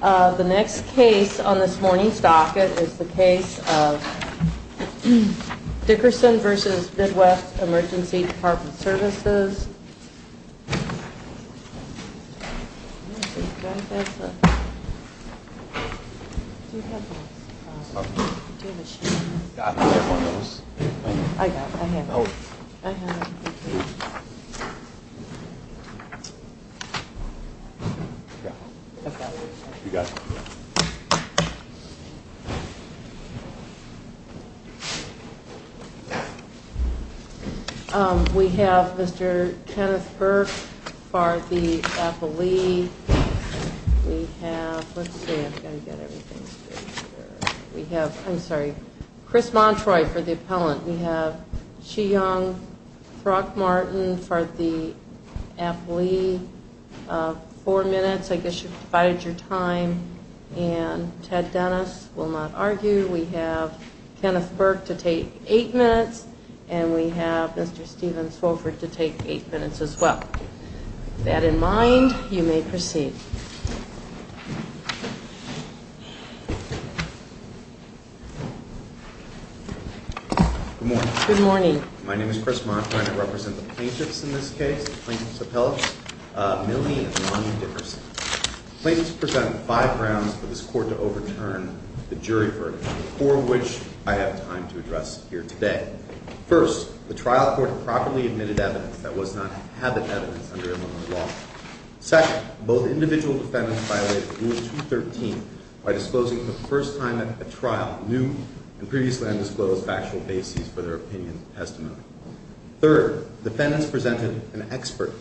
The next case on this morning's docket is the case of Dickerson v. Midwest Emergency Department Services. We have Mr. Kenneth Burke for the appellee. We have, let's see, I've got to get everything straight here. We have, I'm sorry, Chris Montroy for the appellant. We have Chi Yong Throckmorton for the appellee. Four minutes. I guess you've divided your time. And Ted Dennis will not argue. We have Kenneth Burke to take eight minutes. And we have Mr. Stephen Swofford to take eight minutes as well. With that in mind, you may proceed. Good morning. Good morning. My name is Chris Montroy and I represent the plaintiffs in this case, the plaintiffs' appellates, Millie and Lonnie Dickerson. The plaintiffs present five grounds for this Court to overturn the jury verdict, four of which I have time to address here today. First, the trial court properly admitted evidence that was not habit evidence under Illinois law. Second, both individual defendants violated Rule 213 by disclosing for the first time at a trial new and previously undisclosed factual bases for their opinions and testimony. Third, defendants presented an expert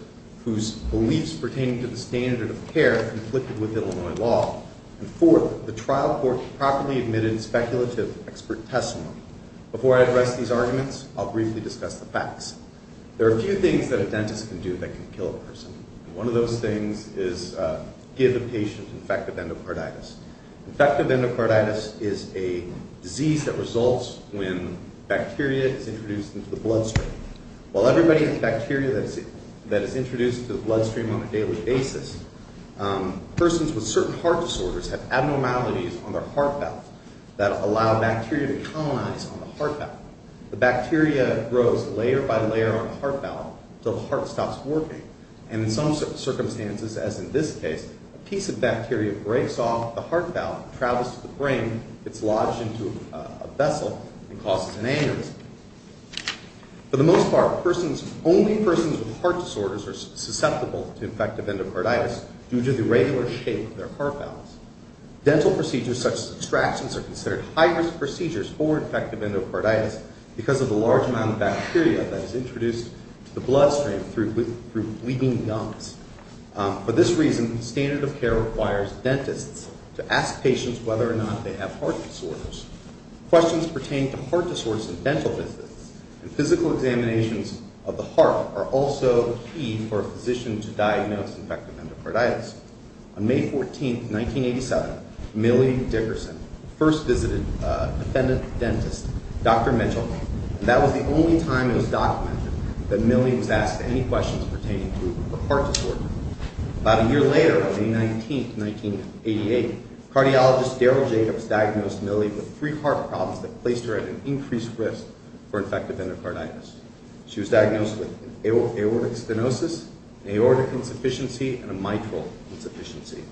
whose beliefs pertaining to the standard of care conflicted with Illinois law. And fourth, the trial court properly admitted speculative expert testimony. Before I address these arguments, I'll briefly discuss the facts. There are a few things that a dentist can do that can kill a person. One of those things is give a patient infective endocarditis. Infective endocarditis is a disease that results when bacteria is introduced into the bloodstream. While everybody has bacteria that is introduced to the bloodstream on a daily basis, persons with certain heart disorders have abnormalities on their heart valve that allow bacteria to colonize on the heart valve. The bacteria grows layer by layer on the heart valve until the heart stops working. And in some circumstances, as in this case, a piece of bacteria breaks off the heart valve and travels to the brain. It's lodged into a vessel and causes an aneurysm. For the most part, only persons with heart disorders are susceptible to infective endocarditis due to the irregular shape of their heart valves. Dental procedures such as extractions are considered high-risk procedures for infective endocarditis because of the large amount of bacteria that is introduced to the bloodstream through bleeding gums. For this reason, the standard of care requires dentists to ask patients whether or not they have heart disorders. Questions pertaining to heart disorders in dental visits and physical examinations of the heart are also key for a physician to diagnose infective endocarditis. On May 14, 1987, Millie Dickerson first visited a defendant dentist, Dr. Mitchell, and that was the only time it was documented that Millie was asked any questions pertaining to a heart disorder. About a year later, on May 19, 1988, cardiologist Daryl Jacobs diagnosed Millie with three heart problems that placed her at an increased risk for infective endocarditis. She was diagnosed with an aortic stenosis, an aortic insufficiency, and a mitral insufficiency.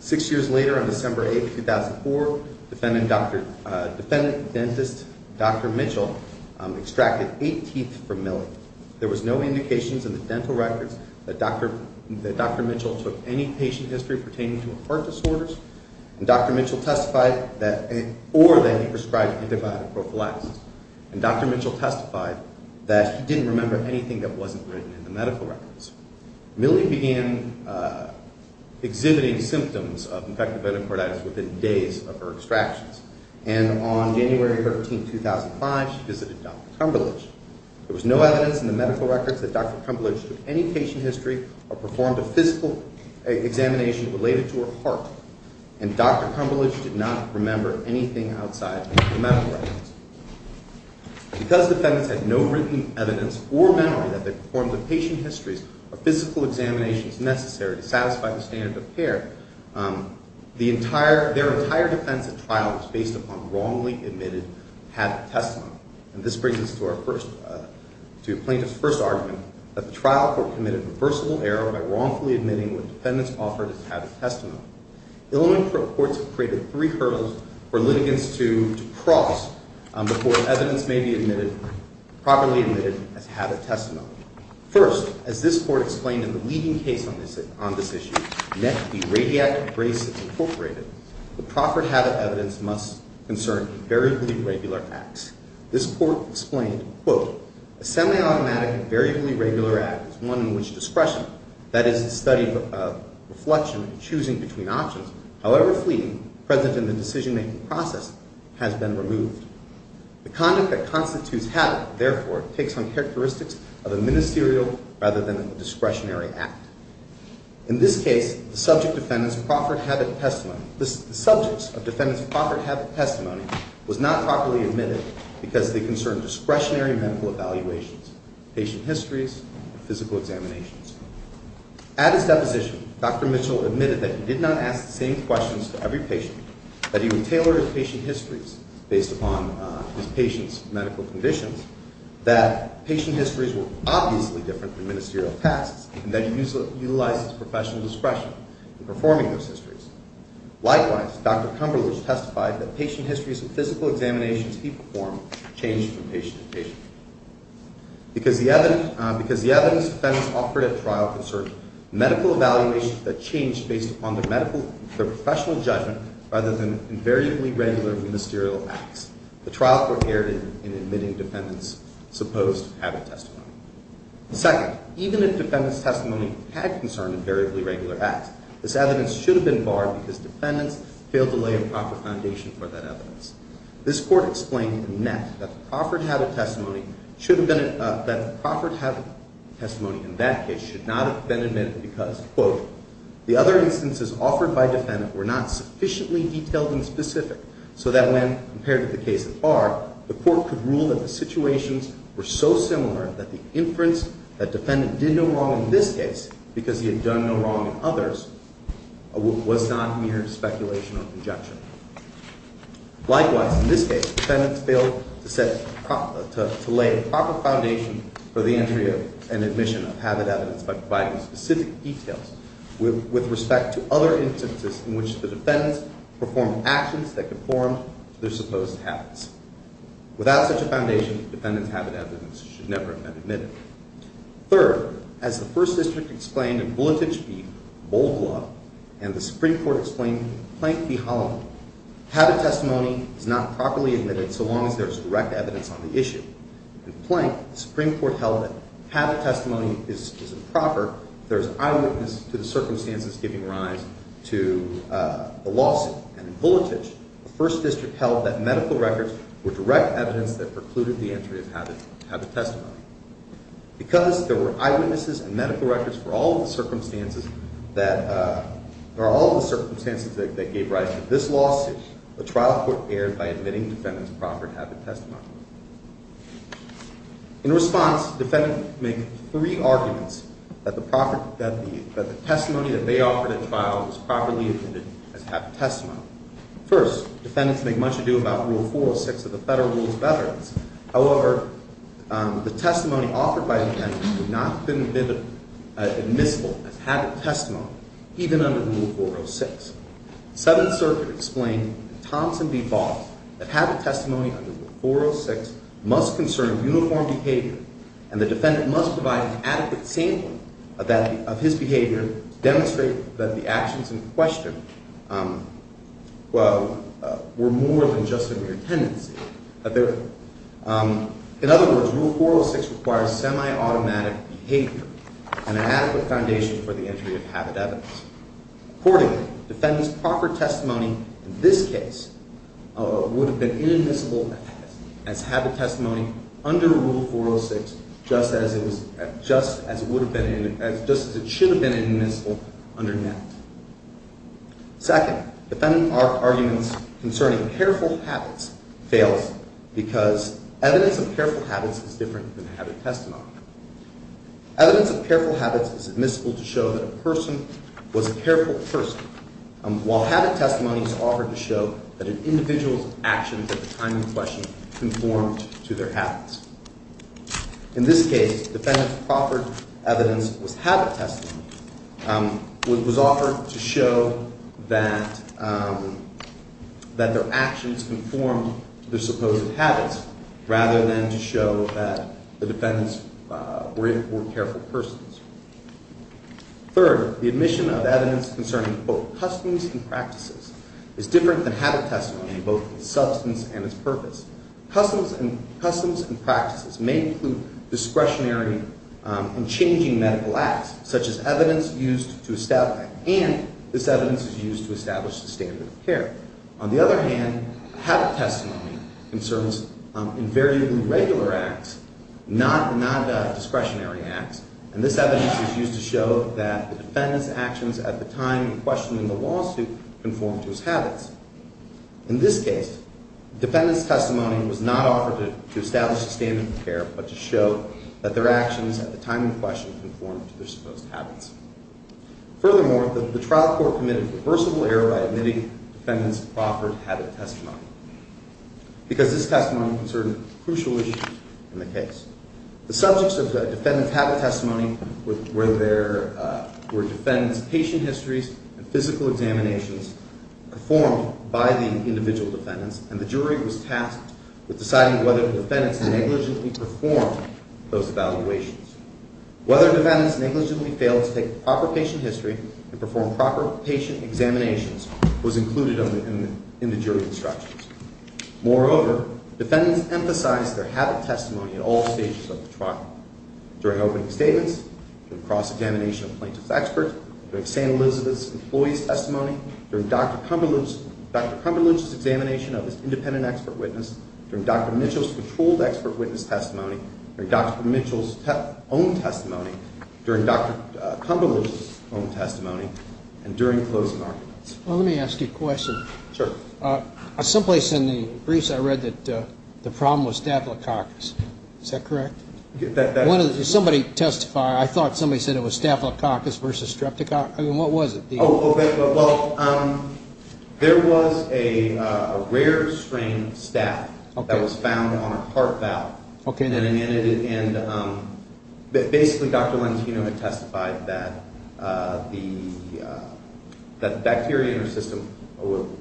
Six years later, on December 8, 2004, defendant dentist Dr. Mitchell extracted eight teeth from Millie. There was no indications in the dental records that Dr. Mitchell took any patient history pertaining to heart disorders, or that he prescribed antibiotic prophylaxis. And Dr. Mitchell testified that he didn't remember anything that wasn't written in the medical records. Millie began exhibiting symptoms of infective endocarditis within days of her extractions. And on January 13, 2005, she visited Dr. Cumberlege. There was no evidence in the medical records that Dr. Cumberlege took any patient history or performed a physical examination related to her heart. And Dr. Cumberlege did not remember anything outside the medical records. Because defendants had no written evidence or memory that they performed the patient histories or physical examinations necessary to satisfy the standard of care, their entire defense at trial was based upon wrongly admitted habit testimony. And this brings us to plaintiff's first argument, that the trial court committed a reversible error by wrongfully admitting what defendants offered as habit testimony. Illinois courts have created three hurdles for litigants to cross before evidence may be properly admitted as habit testimony. First, as this court explained in the leading case on this issue, NET, the Radiatic Braces Incorporated, the proffered habit evidence must concern variably regular acts. This court explained, quote, a semi-automatic and variably regular act is one in which discretion, that is, the study of reflection and choosing between options, however fleeting, present in the decision-making process, has been removed. The conduct that constitutes habit, therefore, takes on characteristics of a ministerial rather than a discretionary act. In this case, the subjects of defendants' proffered habit testimony was not properly admitted because they concerned discretionary medical evaluations, patient histories, physical examinations. At his deposition, Dr. Mitchell admitted that he did not ask the same questions to every patient, that he would tailor his patient histories based upon his patient's medical conditions, that patient histories were obviously different from ministerial tasks, and that he utilized his professional discretion in performing those histories. Likewise, Dr. Cumberlege testified that patient histories and physical examinations he performed changed from patient to patient. Because the evidence defendants offered at trial concerned medical evaluations that changed based upon their professional judgment rather than invariably regular ministerial acts, the trial court erred in admitting defendants' supposed habit testimony. Second, even if defendants' testimony had concerned invariably regular acts, this evidence should have been barred because defendants failed to lay a proper foundation for that evidence. This Court explained in Met that the proffered habit testimony in that case should not have been admitted because, quote, the other instances offered by defendant were not sufficiently detailed and specific so that when, compared to the case at bar, the Court could rule that the situations were so similar that the inference that defendant did no wrong in this case because he had done no wrong in others was not mere speculation or conjecture. Likewise, in this case, defendants failed to lay a proper foundation for the entry and admission of habit evidence by providing specific details with respect to other instances in which the defendants performed actions that conformed to their supposed habits. Without such a foundation, defendants' habit evidence should never have been admitted. Third, as the First District explained in Bulletich v. Bold Law and the Supreme Court explained in Plank v. Holloman, habit testimony is not properly admitted so long as there is direct evidence on the issue. In Plank, the Supreme Court held that habit testimony is improper if there is eyewitness to the circumstances giving rise to the lawsuit. And in Bulletich, the First District held that medical records were direct evidence that precluded the entry of habit testimony. Because there were eyewitnesses and medical records for all of the circumstances that gave rise to this lawsuit, the trial court erred by admitting defendants' proper habit testimony. In response, defendants make three arguments that the testimony that they offered at trial was properly admitted as habit testimony. First, defendants make much ado about Rule 406 of the Federal Rules of Veterans. However, the testimony offered by defendants would not have been admissible as habit testimony even under Rule 406. The Seventh Circuit explained in Thompson v. Ball that habit testimony under Rule 406 must concern uniform behavior and the defendant must provide an adequate sampling of his behavior to demonstrate that the actions in question were more than just a mere tendency. In other words, Rule 406 requires semi-automatic behavior and an adequate foundation for the entry of habit evidence. Accordingly, defendants' proper testimony in this case would have been inadmissible as habit testimony under Rule 406, just as it should have been inadmissible under that. Second, defendants' arguments concerning careful habits fails because evidence of careful habits is different than habit testimony. Evidence of careful habits is admissible to show that a person was a careful person, while habit testimony is offered to show that an individual's actions at the time in question conformed to their habits. In this case, defendants' proper evidence was habit testimony, was offered to show that their actions conformed to their supposed habits, rather than to show that the defendants were careful persons. Third, the admission of evidence concerning both customs and practices is different than habit testimony in both its substance and its purpose. Customs and practices may include discretionary and changing medical acts, such as evidence used to establish the standard of care. On the other hand, habit testimony concerns invariably regular acts, not discretionary acts, and this evidence is used to show that the defendants' actions at the time in question in the lawsuit conformed to his habits. In this case, defendants' testimony was not offered to establish the standard of care, but to show that their actions at the time in question conformed to their supposed habits. Furthermore, the trial court committed reversible error by admitting defendants' offered habit testimony, because this testimony concerned crucial issues in the case. The subjects of the defendants' habit testimony were defendants' patient histories and physical examinations performed by the individual defendants, and the jury was tasked with deciding whether the defendants negligently performed those evaluations. Whether defendants negligently failed to take proper patient history and perform proper patient examinations was included in the jury's instructions. Moreover, defendants emphasized their habit testimony at all stages of the trial, during opening statements, during cross-examination of plaintiff's experts, during St. Elizabeth's employee's testimony, during Dr. Cumberland's examination of his independent expert witness, during Dr. Mitchell's controlled expert witness testimony, during Dr. Mitchell's own testimony, during Dr. Cumberland's own testimony, and during closing arguments. Well, let me ask you a question. Sure. Someplace in the briefs I read that the problem was staphylococcus. Is that correct? Somebody testified. I thought somebody said it was staphylococcus versus streptococcus. I mean, what was it? Oh, okay. Well, there was a rare strain staph that was found on a heart valve. Okay. And basically Dr. Lentino had testified that the bacteria in her system,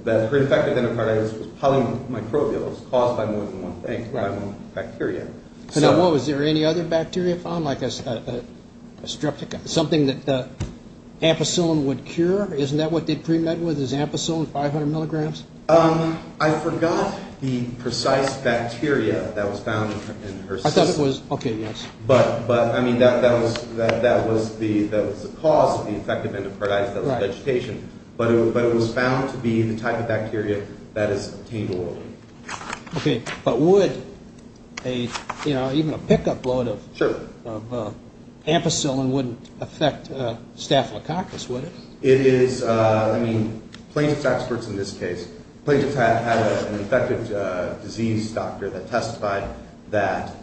that her infected enterocarditis was polymicrobial. It was caused by more than one bacteria. Now, was there any other bacteria found, like a streptococcus, something that ampicillin would cure? Isn't that what they premed with, is ampicillin, 500 milligrams? I forgot the precise bacteria that was found in her system. I thought it was. Okay, yes. But, I mean, that was the cause of the infected enterocarditis, that was vegetation. But it was found to be the type of bacteria that is obtained orally. Okay. But would a, you know, even a pick-up load of ampicillin wouldn't affect staphylococcus, would it? It is. I mean, plaintiff's experts in this case, plaintiff's had an infected disease doctor that testified that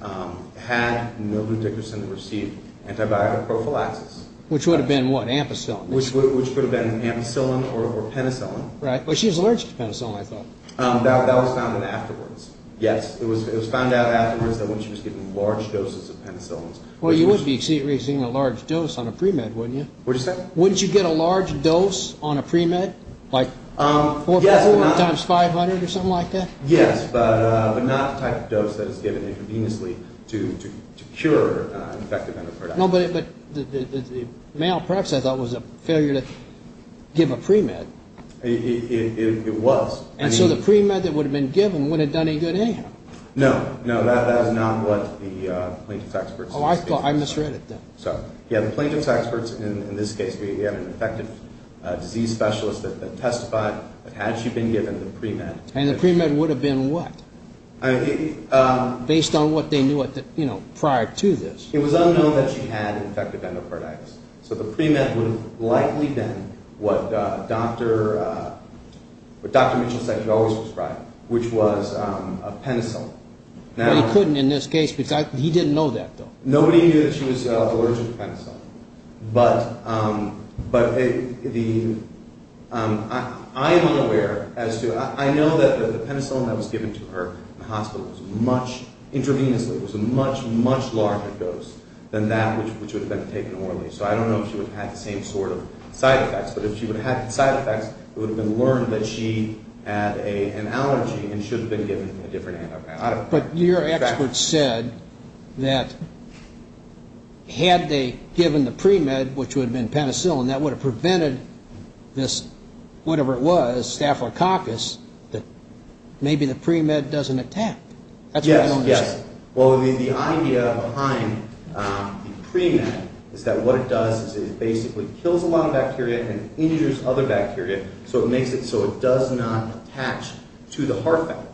had mildew-Dickerson received antibiotic prophylaxis. Which would have been what, ampicillin? Which could have been ampicillin or penicillin. Right. Well, she was allergic to penicillin, I thought. That was found in afterwards. Yes, it was found out afterwards that when she was given large doses of penicillin. Well, you wouldn't be receiving a large dose on a premed, wouldn't you? What did you say? Wouldn't you get a large dose on a premed? Like 4.4 times 500 or something like that? Yes, but not the type of dose that is given inconveniously to cure infected enterocarditis. No, but the malpractice, I thought, was a failure to give a premed. It was. And so the premed that would have been given wouldn't have done any good anyhow. No, no, that is not what the plaintiff's experts stated. Oh, I misread it then. So, yes, the plaintiff's experts in this case, we have an infected disease specialist that testified that had she been given the premed. And the premed would have been what? Based on what they knew prior to this. It was unknown that she had infected enterocarditis. So the premed would have likely been what Dr. Mitchell said he always prescribed, which was a penicillin. But he couldn't in this case because he didn't know that, though. Nobody knew that she was allergic to penicillin. But I am unaware as to, I know that the penicillin that was given to her in the hospital was much, intravenously, was a much, much larger dose than that which would have been taken orally. So I don't know if she would have had the same sort of side effects. But if she would have had side effects, it would have been learned that she had an allergy and should have been given a different antibiotic. But your experts said that had they given the premed, which would have been penicillin, that would have prevented this, whatever it was, staphylococcus, that maybe the premed doesn't attack. Yes, yes. Well, the idea behind the premed is that what it does is it basically kills a lot of bacteria and injures other bacteria so it makes it so it does not attach to the heart valve.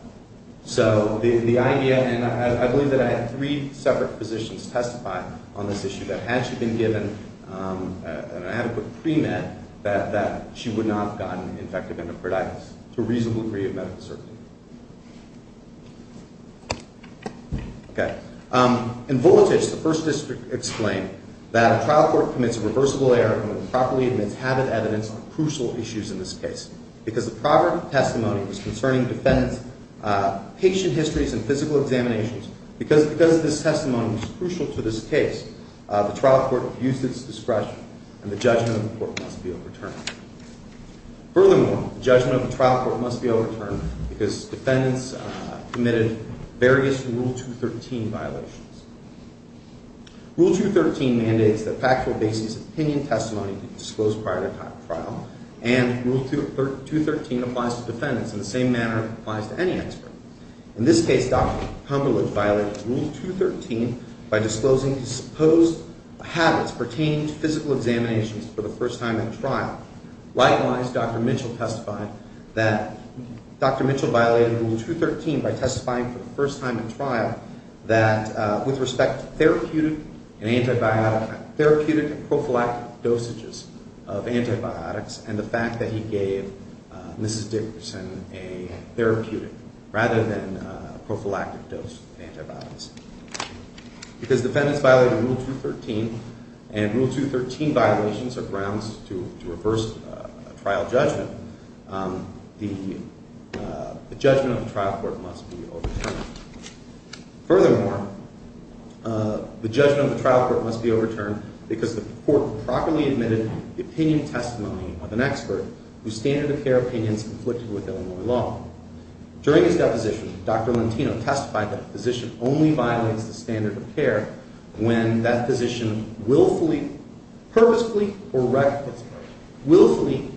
So the idea, and I believe that I had three separate physicians testify on this issue, that had she been given an adequate premed, that she would not have gotten infected endocarditis to a reasonable degree of medical certainty. In Volatich, the First District explained that a trial court commits a reversible error when it improperly admits habit evidence on crucial issues in this case. Because the proper testimony was concerning defendant's patient histories and physical examinations, because this testimony was crucial to this case, the trial court abused its discretion and the judgment of the court must be overturned. Furthermore, the judgment of the trial court must be overturned because defendants committed various Rule 213 violations. Rule 213 mandates that factual basis opinion testimony be disclosed prior to trial and Rule 213 applies to defendants in the same manner it applies to any expert. In this case, Dr. Cumberlege violated Rule 213 by disclosing supposed habits pertaining to physical examinations for the first time at trial. Likewise, Dr. Mitchell testified that Dr. Mitchell violated Rule 213 by testifying for the first time at trial that with respect to therapeutic and prophylactic dosages of antibiotics and the fact that he gave Mrs. Dickerson a therapeutic rather than a prophylactic dose of antibiotics. Because defendants violated Rule 213 and Rule 213 violations are grounds to reverse trial judgment, the judgment of the trial court must be overturned. Furthermore, the judgment of the trial court must be overturned because the court improperly admitted the opinion testimony of an expert whose standard of care opinions conflicted with Illinois law. During his deposition, Dr. Lentino testified that a physician only violates the standard of care when that physician willfully, purposefully, or recklessly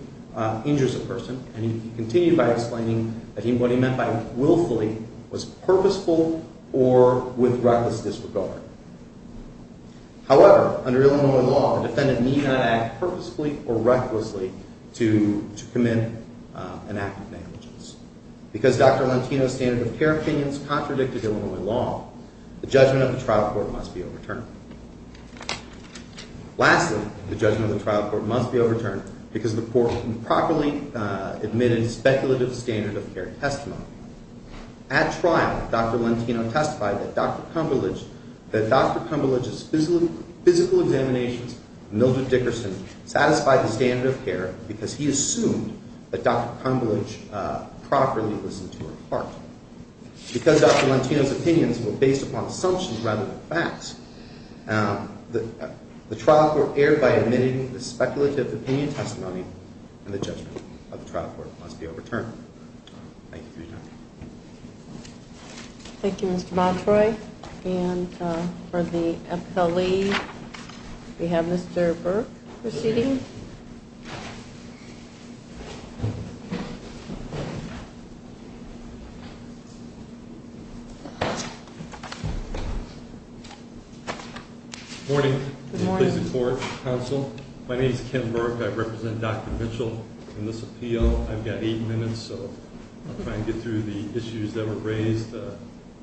injures a person and he continued by explaining that what he meant by willfully was purposeful or with reckless disregard. However, under Illinois law, a defendant need not act purposefully or recklessly to commit an act of negligence. Because Dr. Lentino's standard of care opinions contradicted Illinois law, the judgment of the trial court must be overturned. Lastly, the judgment of the trial court must be overturned because the court improperly admitted a speculative standard of care testimony. At trial, Dr. Lentino testified that Dr. Cumberlege's physical examinations of Mildred Dickerson satisfied the standard of care because he assumed that Dr. Cumberlege properly listened to her part. Because Dr. Lentino's opinions were based upon assumptions rather than facts, the trial court erred by admitting the speculative opinion testimony and the judgment of the trial court must be overturned. Thank you for your time. Thank you, Mr. Montroy. And for the appellee, we have Mr. Burke proceeding. Good morning. Good morning. My name is Ken Burke. I represent Dr. Mitchell in this appeal. I've got eight minutes, so I'll try and get through the issues that were raised.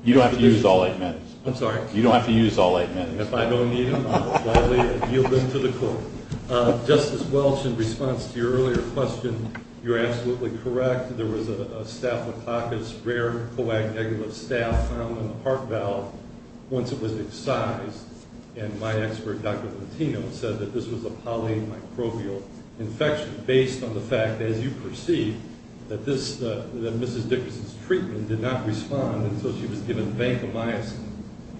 You don't have to use all eight minutes. I'm sorry? You don't have to use all eight minutes. If I don't need them, I'll yield them to the court. Justice Welch, in response to your earlier question, you're absolutely correct. There was a staphylococcus rare coagulative staph found in the heart valve once it was excised, and my expert, Dr. Lentino, said that this was a polymicrobial infection based on the fact, as you perceive, that Mrs. Dickerson's treatment did not respond until she was given vancomycin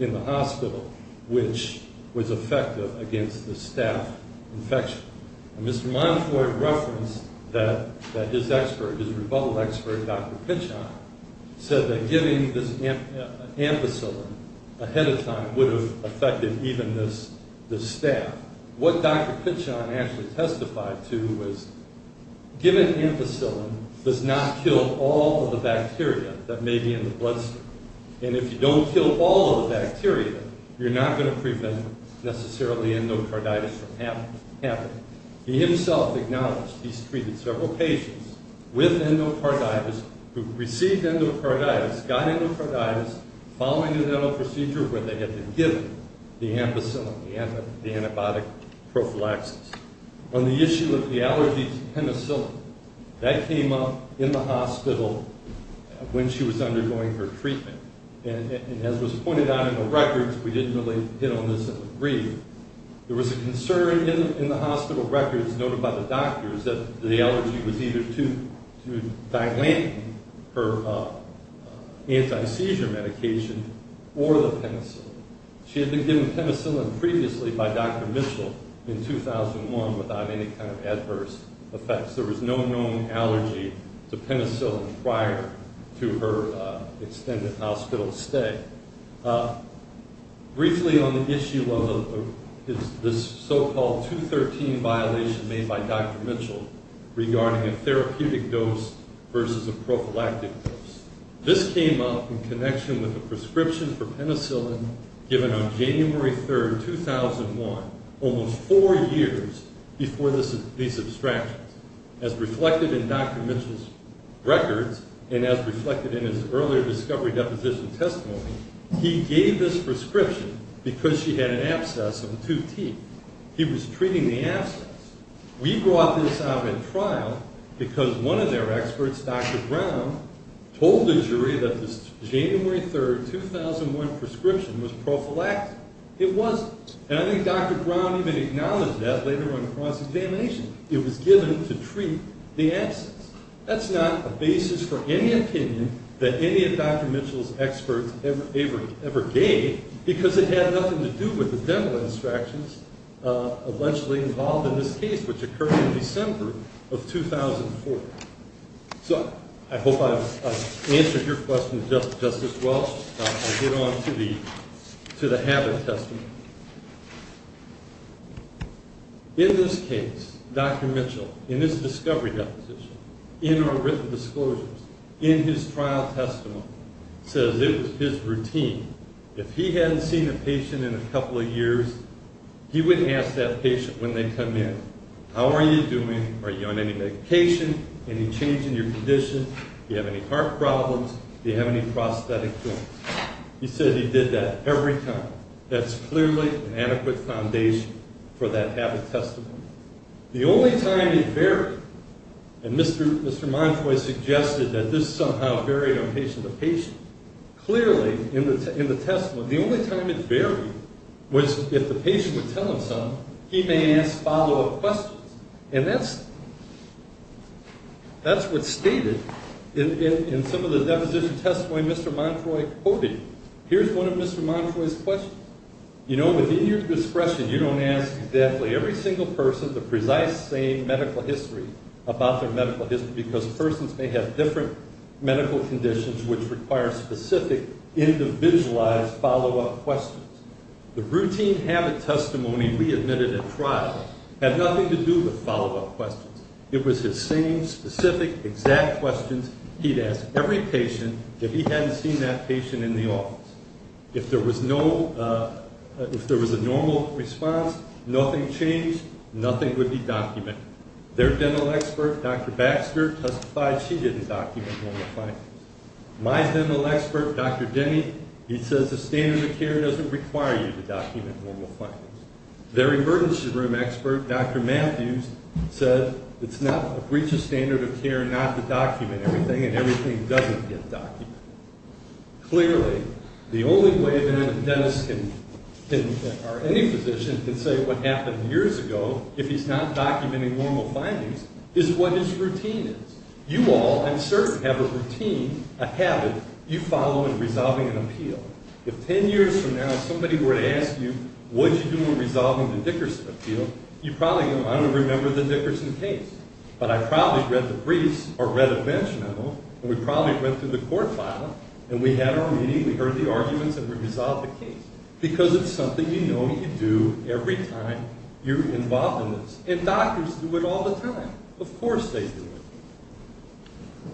in the hospital, which was effective against the staph infection. And Mr. Montroy referenced that his expert, his rebuttal expert, Dr. Pichon, said that giving this ampicillin ahead of time would have affected even the staph. Now, what Dr. Pichon actually testified to was given ampicillin does not kill all of the bacteria that may be in the bloodstream, and if you don't kill all of the bacteria, you're not going to prevent, necessarily, endocarditis from happening. He himself acknowledged he's treated several patients with endocarditis who received endocarditis, got endocarditis following the dental procedure where they had been given the ampicillin, the antibiotic prophylaxis. On the issue of the allergy to penicillin, that came up in the hospital when she was undergoing her treatment, and as was pointed out in the records, we didn't really hit on this in the brief, there was a concern in the hospital records noted by the doctors that the allergy was either to dilating her anti-seizure medication or the penicillin. She had been given penicillin previously by Dr. Mitchell in 2001 without any kind of adverse effects. There was no known allergy to penicillin prior to her extended hospital stay. Briefly on the issue of this so-called 213 violation made by Dr. Mitchell regarding a therapeutic dose versus a prophylactic dose. This came up in connection with a prescription for penicillin given on January 3, 2001, almost four years before these abstractions. As reflected in Dr. Mitchell's records and as reflected in his earlier discovery deposition testimony, he gave this prescription because she had an abscess of two teeth. He was treating the abscess. We brought this up in trial because one of their experts, Dr. Brown, told the jury that this January 3, 2001 prescription was prophylactic. It wasn't, and I think Dr. Brown even acknowledged that later on in cross-examination. It was given to treat the abscess. That's not a basis for any opinion that any of Dr. Mitchell's experts ever gave because it had nothing to do with the dental abstractions eventually involved in this case, which occurred in December of 2004. So I hope I've answered your question, Justice Welch. I'll get on to the habit testimony. In this case, Dr. Mitchell, in his discovery deposition, in our written disclosures, in his trial testimony, says it was his routine. If he hadn't seen a patient in a couple of years, he would ask that patient when they come in, how are you doing? Are you on any medication, any change in your condition? Do you have any heart problems? Do you have any prosthetic joints? He said he did that every time. That's clearly an adequate foundation for that habit testimony. The only time it varied, and Mr. Montroy suggested that this somehow varied on patient to patient, clearly in the testimony, the only time it varied was if the patient would tell him something, he may ask follow-up questions. And that's what's stated in some of the deposition testimony Mr. Montroy quoted. Here's one of Mr. Montroy's questions. You know, within your discretion, you don't ask exactly every single person the precise same medical history about their medical history because persons may have different medical conditions which require specific, individualized follow-up questions. The routine habit testimony we admitted at trial had nothing to do with follow-up questions. It was his same specific, exact questions he'd ask every patient if he hadn't seen that patient in the office. If there was a normal response, nothing changed, nothing would be documented. Their dental expert, Dr. Baxter, testified she didn't document normal findings. My dental expert, Dr. Denny, he says the standard of care doesn't require you to document normal findings. Their emergency room expert, Dr. Matthews, said it's not a breach of standard of care not to document everything and everything doesn't get documented. Clearly, the only way that a dentist or any physician can say what happened years ago if he's not documenting normal findings is what his routine is. You all, I'm certain, have a routine, a habit you follow in resolving an appeal. If 10 years from now somebody were to ask you what did you do in resolving the Dickerson appeal, you'd probably go, I don't remember the Dickerson case, but I probably read the briefs or read a bench memo, and we probably went through the court file, and we had our meeting, we heard the arguments, and we resolved the case. Because it's something you know you do every time you're involved in this. And doctors do it all the time. Of course they do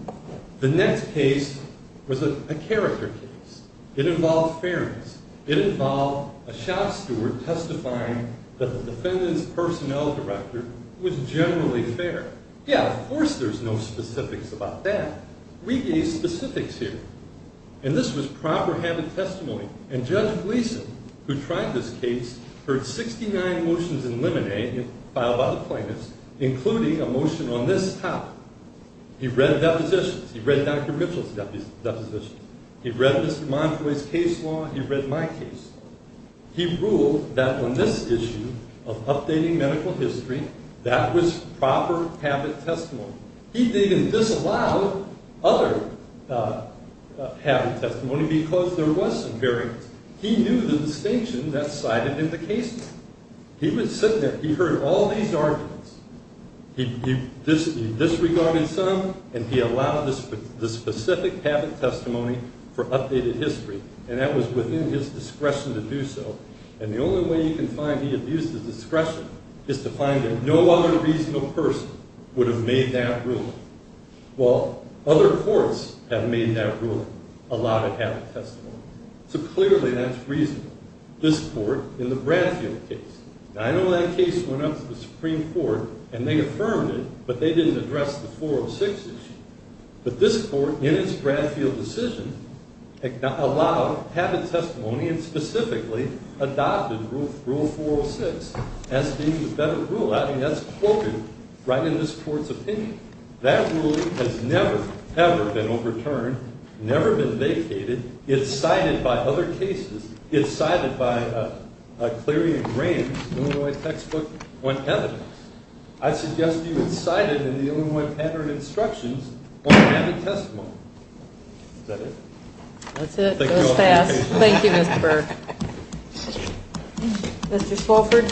it. The next case was a character case. It involved fairness. It involved a shop steward testifying that the defendant's personnel director was generally fair. Yeah, of course there's no specifics about that. We gave specifics here. And this was proper habit testimony. And Judge Gleason, who tried this case, heard 69 motions in limine filed by the plaintiffs, including a motion on this topic. He read depositions. He read Dr. Mitchell's depositions. He read Mr. Montoy's case law. He read my case law. He ruled that on this issue of updating medical history, that was proper habit testimony. He didn't disallow other habit testimony because there was some variance. He knew the distinction that's cited in the case law. He was sitting there. He heard all these arguments. He disregarded some, and he allowed the specific habit testimony for updated history. And that was within his discretion to do so. And the only way you can find he abused his discretion is to find that no other reasonable person would have made that ruling. Well, other courts have made that ruling, allowed it habit testimony. So clearly that's reasonable. This court in the Bradfield case, I know that case went up to the Supreme Court, and they affirmed it, but they didn't address the 406 issue. But this court, in its Bradfield decision, allowed habit testimony and specifically adopted Rule 406 as being the better rule. I mean, that's quoted right in this court's opinion. That ruling has never, ever been overturned, never been vacated. It's cited by other cases. It's cited by Cleary and Graham's Illinois textbook on habit. I suggest you incite it in the Illinois pattern instructions on habit testimony. Is that it? That's it. It was fast. Thank you, Mr. Burke. Mr. Swofford.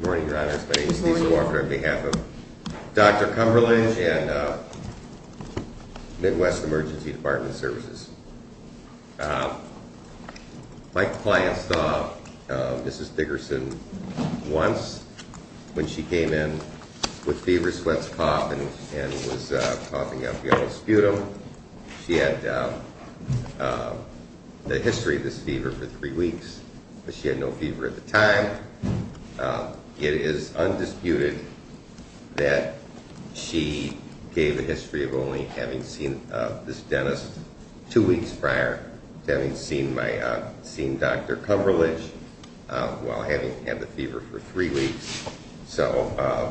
Good morning, Your Honors. My name is Cecil Swofford on behalf of Dr. Cumberland and Midwest Emergency Department Services. My client saw Mrs. Dickerson once when she came in with fever, sweats, cough, and was coughing up yellow sputum. She had the history of this fever for three weeks, but she had no fever at the time. It is undisputed that she gave a history of only having seen this dentist two weeks prior to having seen Dr. Cumberlidge while having had the fever for three weeks. So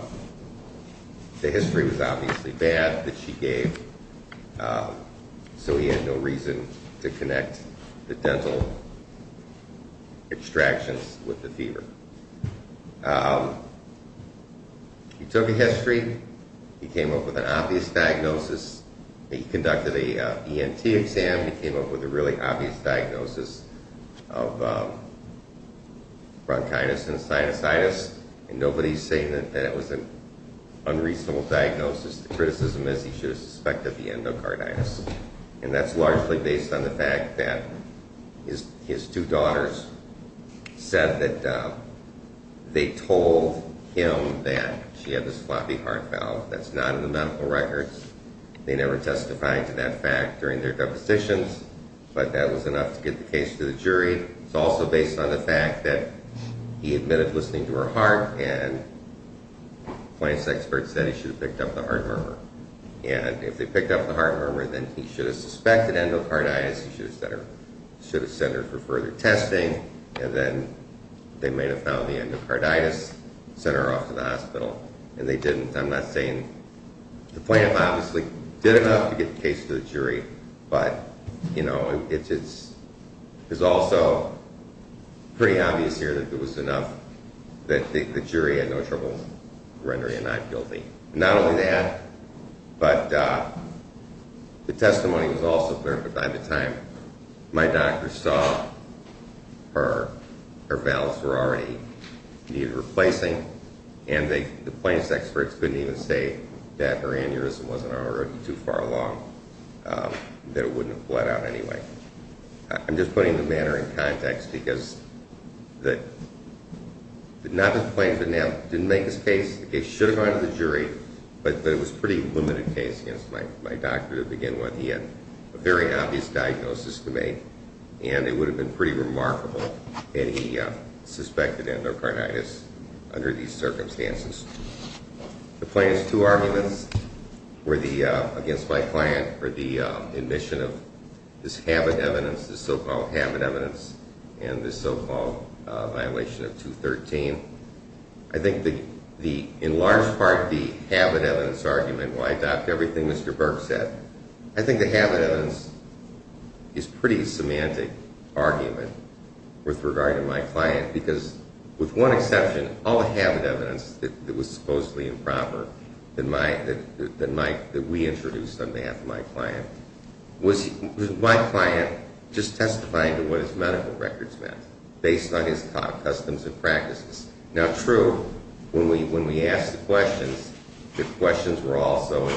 the history was obviously bad that she gave, so he had no reason to connect the dental extractions with the fever. He took a history. He came up with an obvious diagnosis. He conducted an ENT exam. He came up with a really obvious diagnosis of bronchitis and sinusitis, and nobody's saying that it was an unreasonable diagnosis. The criticism is he should have suspected the endocarditis, and that's largely based on the fact that his two daughters said that they told him that she had this floppy heart valve. That's not in the medical records. They never testified to that fact during their depositions, but that was enough to get the case to the jury. It's also based on the fact that he admitted listening to her heart, and the plaintiff's expert said he should have picked up the heart murmur, and if they picked up the heart murmur, then he should have suspected endocarditis. He should have sent her for further testing, and then they may have found the endocarditis, sent her off to the hospital, and they didn't. I'm not saying the plaintiff obviously did enough to get the case to the jury, but it's also pretty obvious here that it was enough that the jury had no trouble rendering him not guilty. Not only that, but the testimony was also clear, but by the time my doctor saw her, her valves were already needed replacing, and the plaintiff's experts couldn't even say that her aneurysm wasn't already too far along, that it wouldn't have bled out anyway. I'm just putting the matter in context because the plaintiff didn't make his case. The case should have gone to the jury, but it was a pretty limited case against my doctor to begin with. He had a very obvious diagnosis to make, and it would have been pretty remarkable had he suspected endocarditis under these circumstances. The plaintiff's two arguments against my client were the admission of this habit evidence, the so-called habit evidence, and the so-called violation of 213. I think in large part the habit evidence argument, why I doubt everything Mr. Burke said, I think the habit evidence is a pretty semantic argument with regard to my client because with one exception, all the habit evidence that was supposedly improper that we introduced on behalf of my client was my client just testifying to what his medical records meant based on his customs and practices. Now, true, when we asked the questions, the questions were also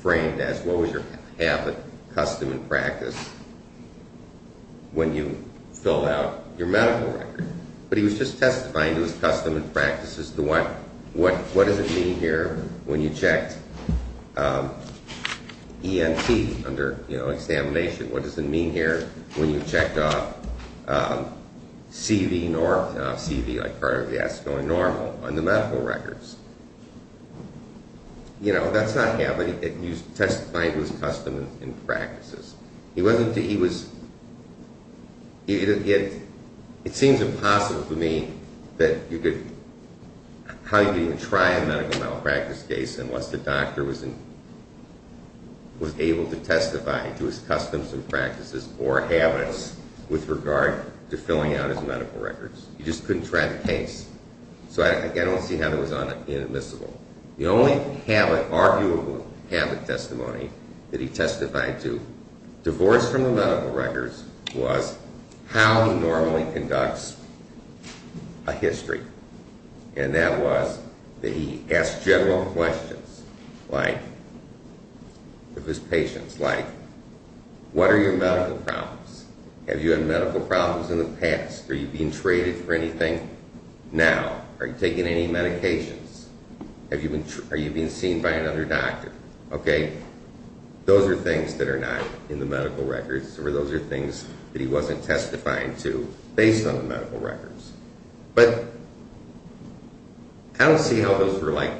framed as, what was your habit, custom, and practice when you filled out your medical record? But he was just testifying to his customs and practices. What does it mean here when you checked ENT under examination? What does it mean here when you checked off CV like part of the ASCO and normal on the medical records? You know, that's not habit. You're testifying to his customs and practices. It seems impossible to me how you could even try a medical malpractice case unless the doctor was able to testify to his customs and practices or habits with regard to filling out his medical records. You just couldn't try the case. So I don't see how it was inadmissible. The only habit, arguable habit testimony that he testified to, divorced from the medical records, was how he normally conducts a history. And that was that he asked general questions of his patients, like, what are your medical problems? Have you had medical problems in the past? Are you being traded for anything now? Are you taking any medications? Are you being seen by another doctor? Okay, those are things that are not in the medical records, or those are things that he wasn't testifying to based on the medical records. But I don't see how those were, like,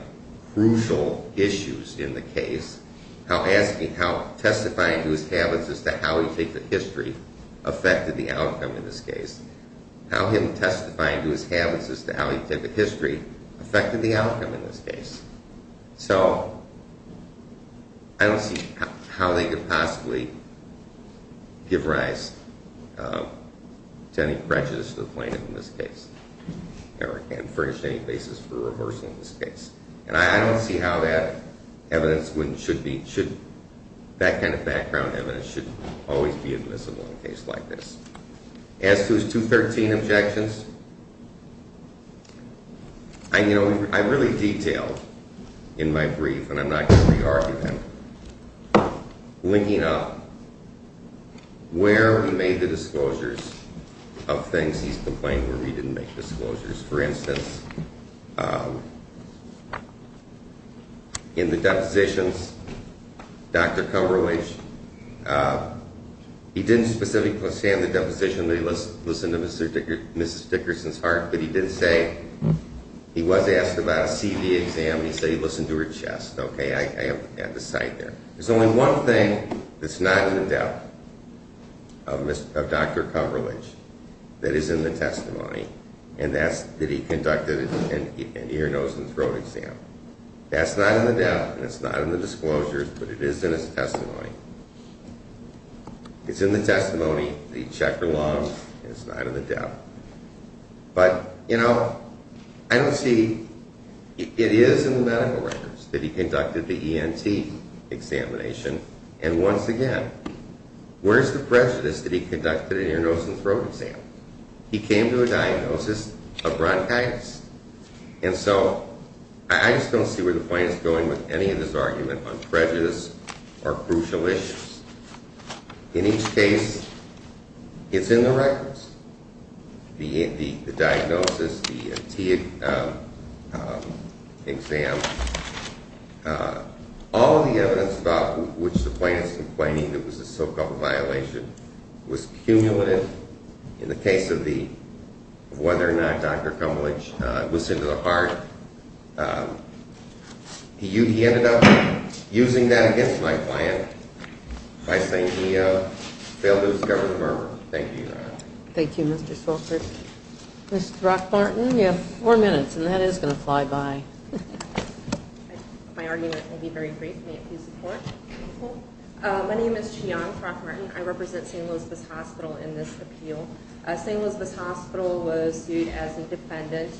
crucial issues in the case, how testifying to his habits as to how he takes a history affected the outcome in this case. How him testifying to his habits as to how he took a history affected the outcome in this case. So I don't see how they could possibly give rise to any prejudice to the plaintiff in this case and furnish any basis for reversal in this case. And I don't see how that evidence should be, that kind of background evidence should always be admissible in a case like this. As to his 213 objections, I really detailed in my brief, and I'm not going to re-argue him, linking up where he made the disclosures of things he's complained where he didn't make disclosures. For instance, in the depositions, Dr. Cumberlege, he didn't specifically say in the deposition that he listened to Mrs. Dickerson's heart, but he did say he was asked about a CV exam, and he said he listened to her chest. Okay, I have the site there. There's only one thing that's not in the depth of Dr. Cumberlege that is in the testimony, and that's that he conducted an ear, nose, and throat exam. That's not in the depth, and it's not in the disclosures, but it is in his testimony. It's in the testimony that he checked her lungs, and it's not in the depth. But, you know, I don't see... It is in the medical records that he conducted the ENT examination, and once again, where's the prejudice that he conducted an ear, nose, and throat exam? He came to a diagnosis of bronchitis. And so I just don't see where the plaintiff is going with any of this argument on prejudice or crucial issues. In each case, it's in the records, the diagnosis, the ENT exam. All of the evidence about which the plaintiff is complaining that was a so-called violation was cumulative in the case of whether or not Dr. Cumberlege was into the heart. He ended up using that against my client by saying he failed to discover the murmur. Thank you, Your Honor. Thank you, Mr. Solkert. Ms. Brock-Martin, you have four minutes, and that is going to fly by. My argument will be very brief. May it please the Court? My name is Cheyenne Brock-Martin. I represent St. Elizabeth's Hospital in this appeal. St. Elizabeth's Hospital was sued as an defendant.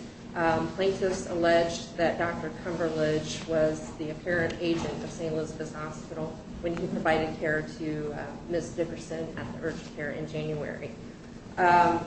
Plaintiffs alleged that Dr. Cumberlege was the apparent agent of St. Elizabeth's Hospital when he provided care to Ms. Dickerson at the urgent care in January. At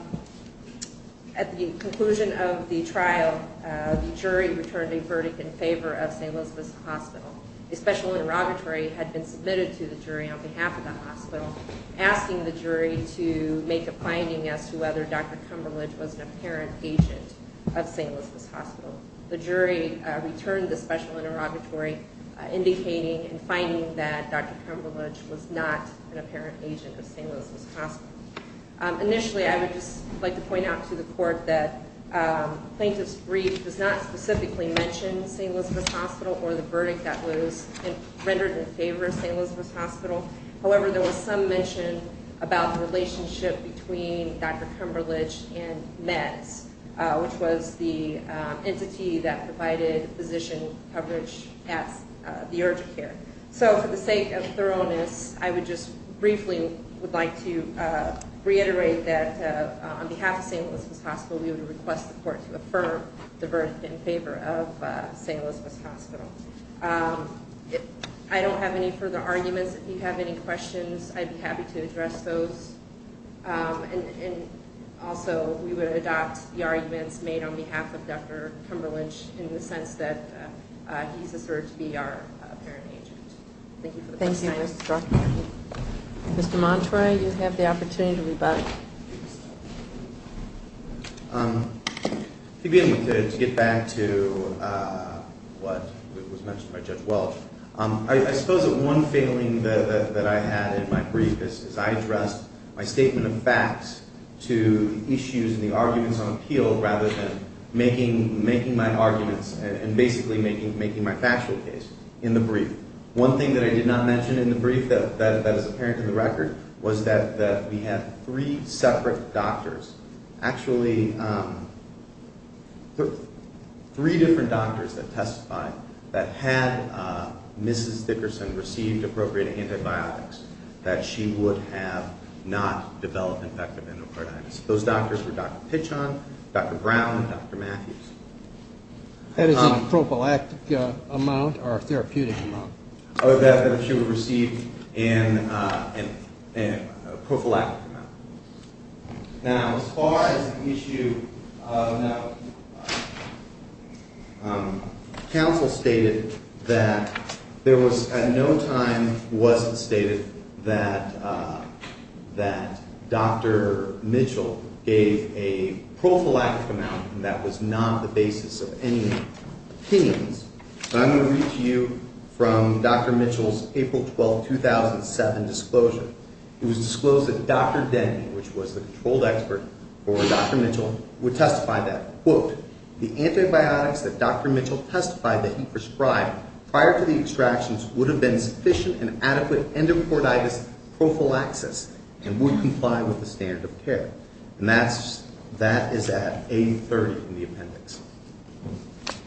the conclusion of the trial, the jury returned a verdict in favor of St. Elizabeth's Hospital. A special interrogatory had been submitted to the jury on behalf of the hospital, asking the jury to make a finding as to whether Dr. Cumberlege was an apparent agent of St. Elizabeth's Hospital. The jury returned the special interrogatory, indicating and finding that Dr. Cumberlege was not an apparent agent of St. Elizabeth's Hospital. Initially, I would just like to point out to the Court that the plaintiff's brief does not specifically mention St. Elizabeth's Hospital or the verdict that was rendered in favor of St. Elizabeth's Hospital. However, there was some mention about the relationship between Dr. Cumberlege and MEDS, which was the entity that provided physician coverage at the urgent care. So, for the sake of thoroughness, I would just briefly would like to reiterate that on behalf of St. Elizabeth's Hospital, we would request the Court to affirm the verdict in favor of St. Elizabeth's Hospital. I don't have any further arguments. If you have any questions, I'd be happy to address those. And also, we would adopt the arguments made on behalf of Dr. Cumberlege in the sense that he's asserted to be our apparent agent. Thank you for the question. Mr. Montroy, you have the opportunity to rebut. If you'll give me a minute to get back to what was mentioned by Judge Welch. I suppose that one failing that I had in my brief is I addressed my statement of facts to issues and the arguments on appeal rather than making my arguments One thing that I did not mention in the brief that is apparent in the record was that we had three separate doctors, actually three different doctors that testified that had Mrs. Dickerson received appropriate antibiotics, that she would have not developed infective endocarditis. Those doctors were Dr. Pichon, Dr. Brown, and Dr. Matthews. That is a prophylactic amount or a therapeutic amount? That she would receive a prophylactic amount. Now, as far as the issue of counsel stated, that there was at no time was it stated that Dr. Mitchell gave a prophylactic amount and that was not the basis of any opinions. I'm going to read to you from Dr. Mitchell's April 12, 2007 disclosure. It was disclosed that Dr. Denny, which was the controlled expert for Dr. Mitchell, would testify that, quote, the antibiotics that Dr. Mitchell testified that he prescribed prior to the extractions would have been sufficient and adequate endocarditis prophylaxis and would comply with the standard of care. And that is at A30 in the appendix.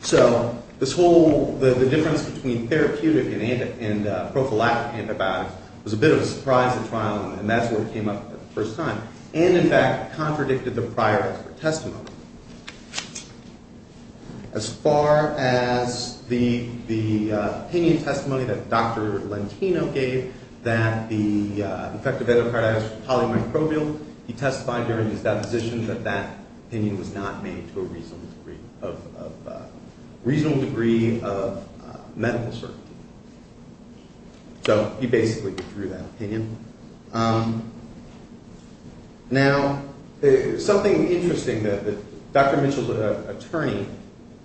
So the difference between therapeutic and prophylactic antibiotics was a bit of a surprise to trial and that's where it came up for the first time and, in fact, contradicted the prior expert testimony. As far as the opinion testimony that Dr. Lentino gave that the infective endocarditis was polymicrobial, he testified during his deposition that that opinion was not made to a reasonable degree of medical certainty. So he basically withdrew that opinion. Now, something interesting that Dr. Mitchell, the attorney,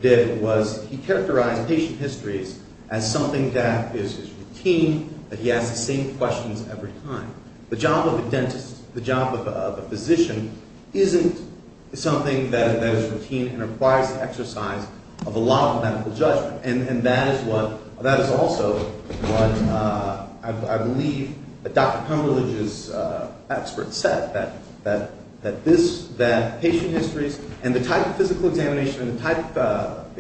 did was he characterized patient histories as something that is his routine, that he asks the same questions every time. The job of a dentist, the job of a physician, isn't something that is routine and requires the exercise of a lot of medical judgment. And that is also what I believe Dr. Cumberlege's expert said, that patient histories and the type of physical examination and the type of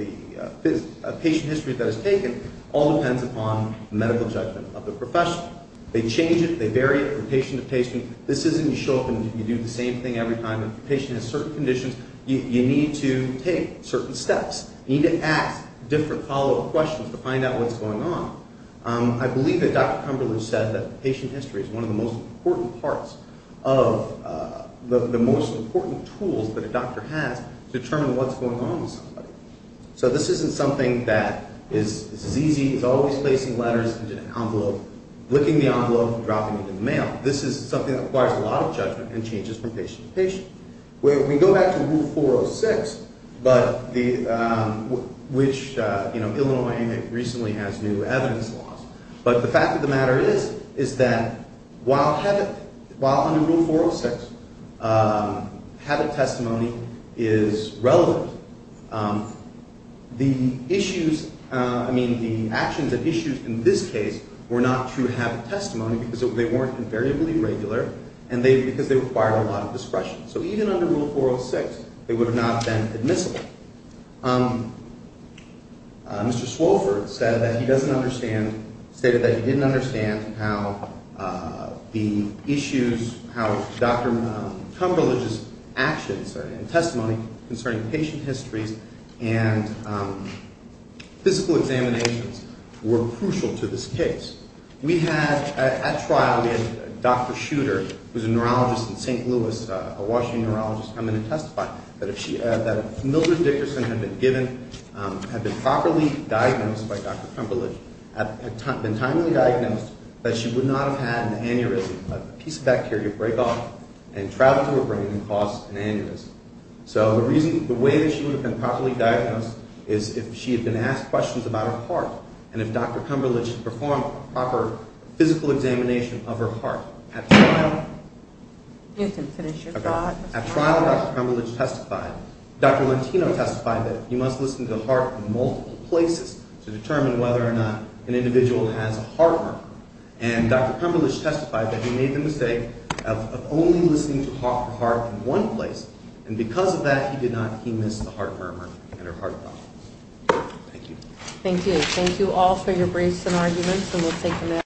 patient history that is taken all depends upon medical judgment of the professional. They change it, they vary it from patient to patient. This isn't you show up and you do the same thing every time the patient has certain conditions. You need to take certain steps. You need to ask different follow-up questions to find out what's going on. I believe that Dr. Cumberlege said that patient history is one of the most important parts of the most important tools that a doctor has to determine what's going on with somebody. So this isn't something that is easy. It's always placing letters in an envelope, licking the envelope and dropping it in the mail. This is something that requires a lot of judgment and changes from patient to patient. When we go back to Rule 406, which Illinois and Miami recently has new evidence laws, but the fact of the matter is that while under Rule 406 habit testimony is relevant, the actions and issues in this case were not true habit testimony because they weren't invariably regular and because they required a lot of discretion. So even under Rule 406, they would have not been admissible. Mr. Swofford stated that he didn't understand how the issues, how Dr. Cumberlege's actions and testimony concerning patient histories and physical examinations were crucial to this case. At trial, we had Dr. Shooter, who's a neurologist in St. Louis, a Washington neurologist, come in and testify that if Mildred Dickerson had been given, had been properly diagnosed by Dr. Cumberlege, had been timely diagnosed, that she would not have had an aneurysm, a piece of bacteria break off and travel to her brain and cause an aneurysm. So the way that she would have been properly diagnosed is if she had been asked questions about her heart and if Dr. Cumberlege had performed a proper physical examination of her heart. You can finish your thought. At trial, Dr. Cumberlege testified. Dr. Lentino testified that he must listen to the heart in multiple places to determine whether or not an individual has a heart murmur. And Dr. Cumberlege testified that he made the mistake of only listening to the heart in one place, and because of that, he did not, he missed the heart murmur and her heart throb. Thank you. Thank you. Thank you all for your briefs and arguments, and we'll take a nap.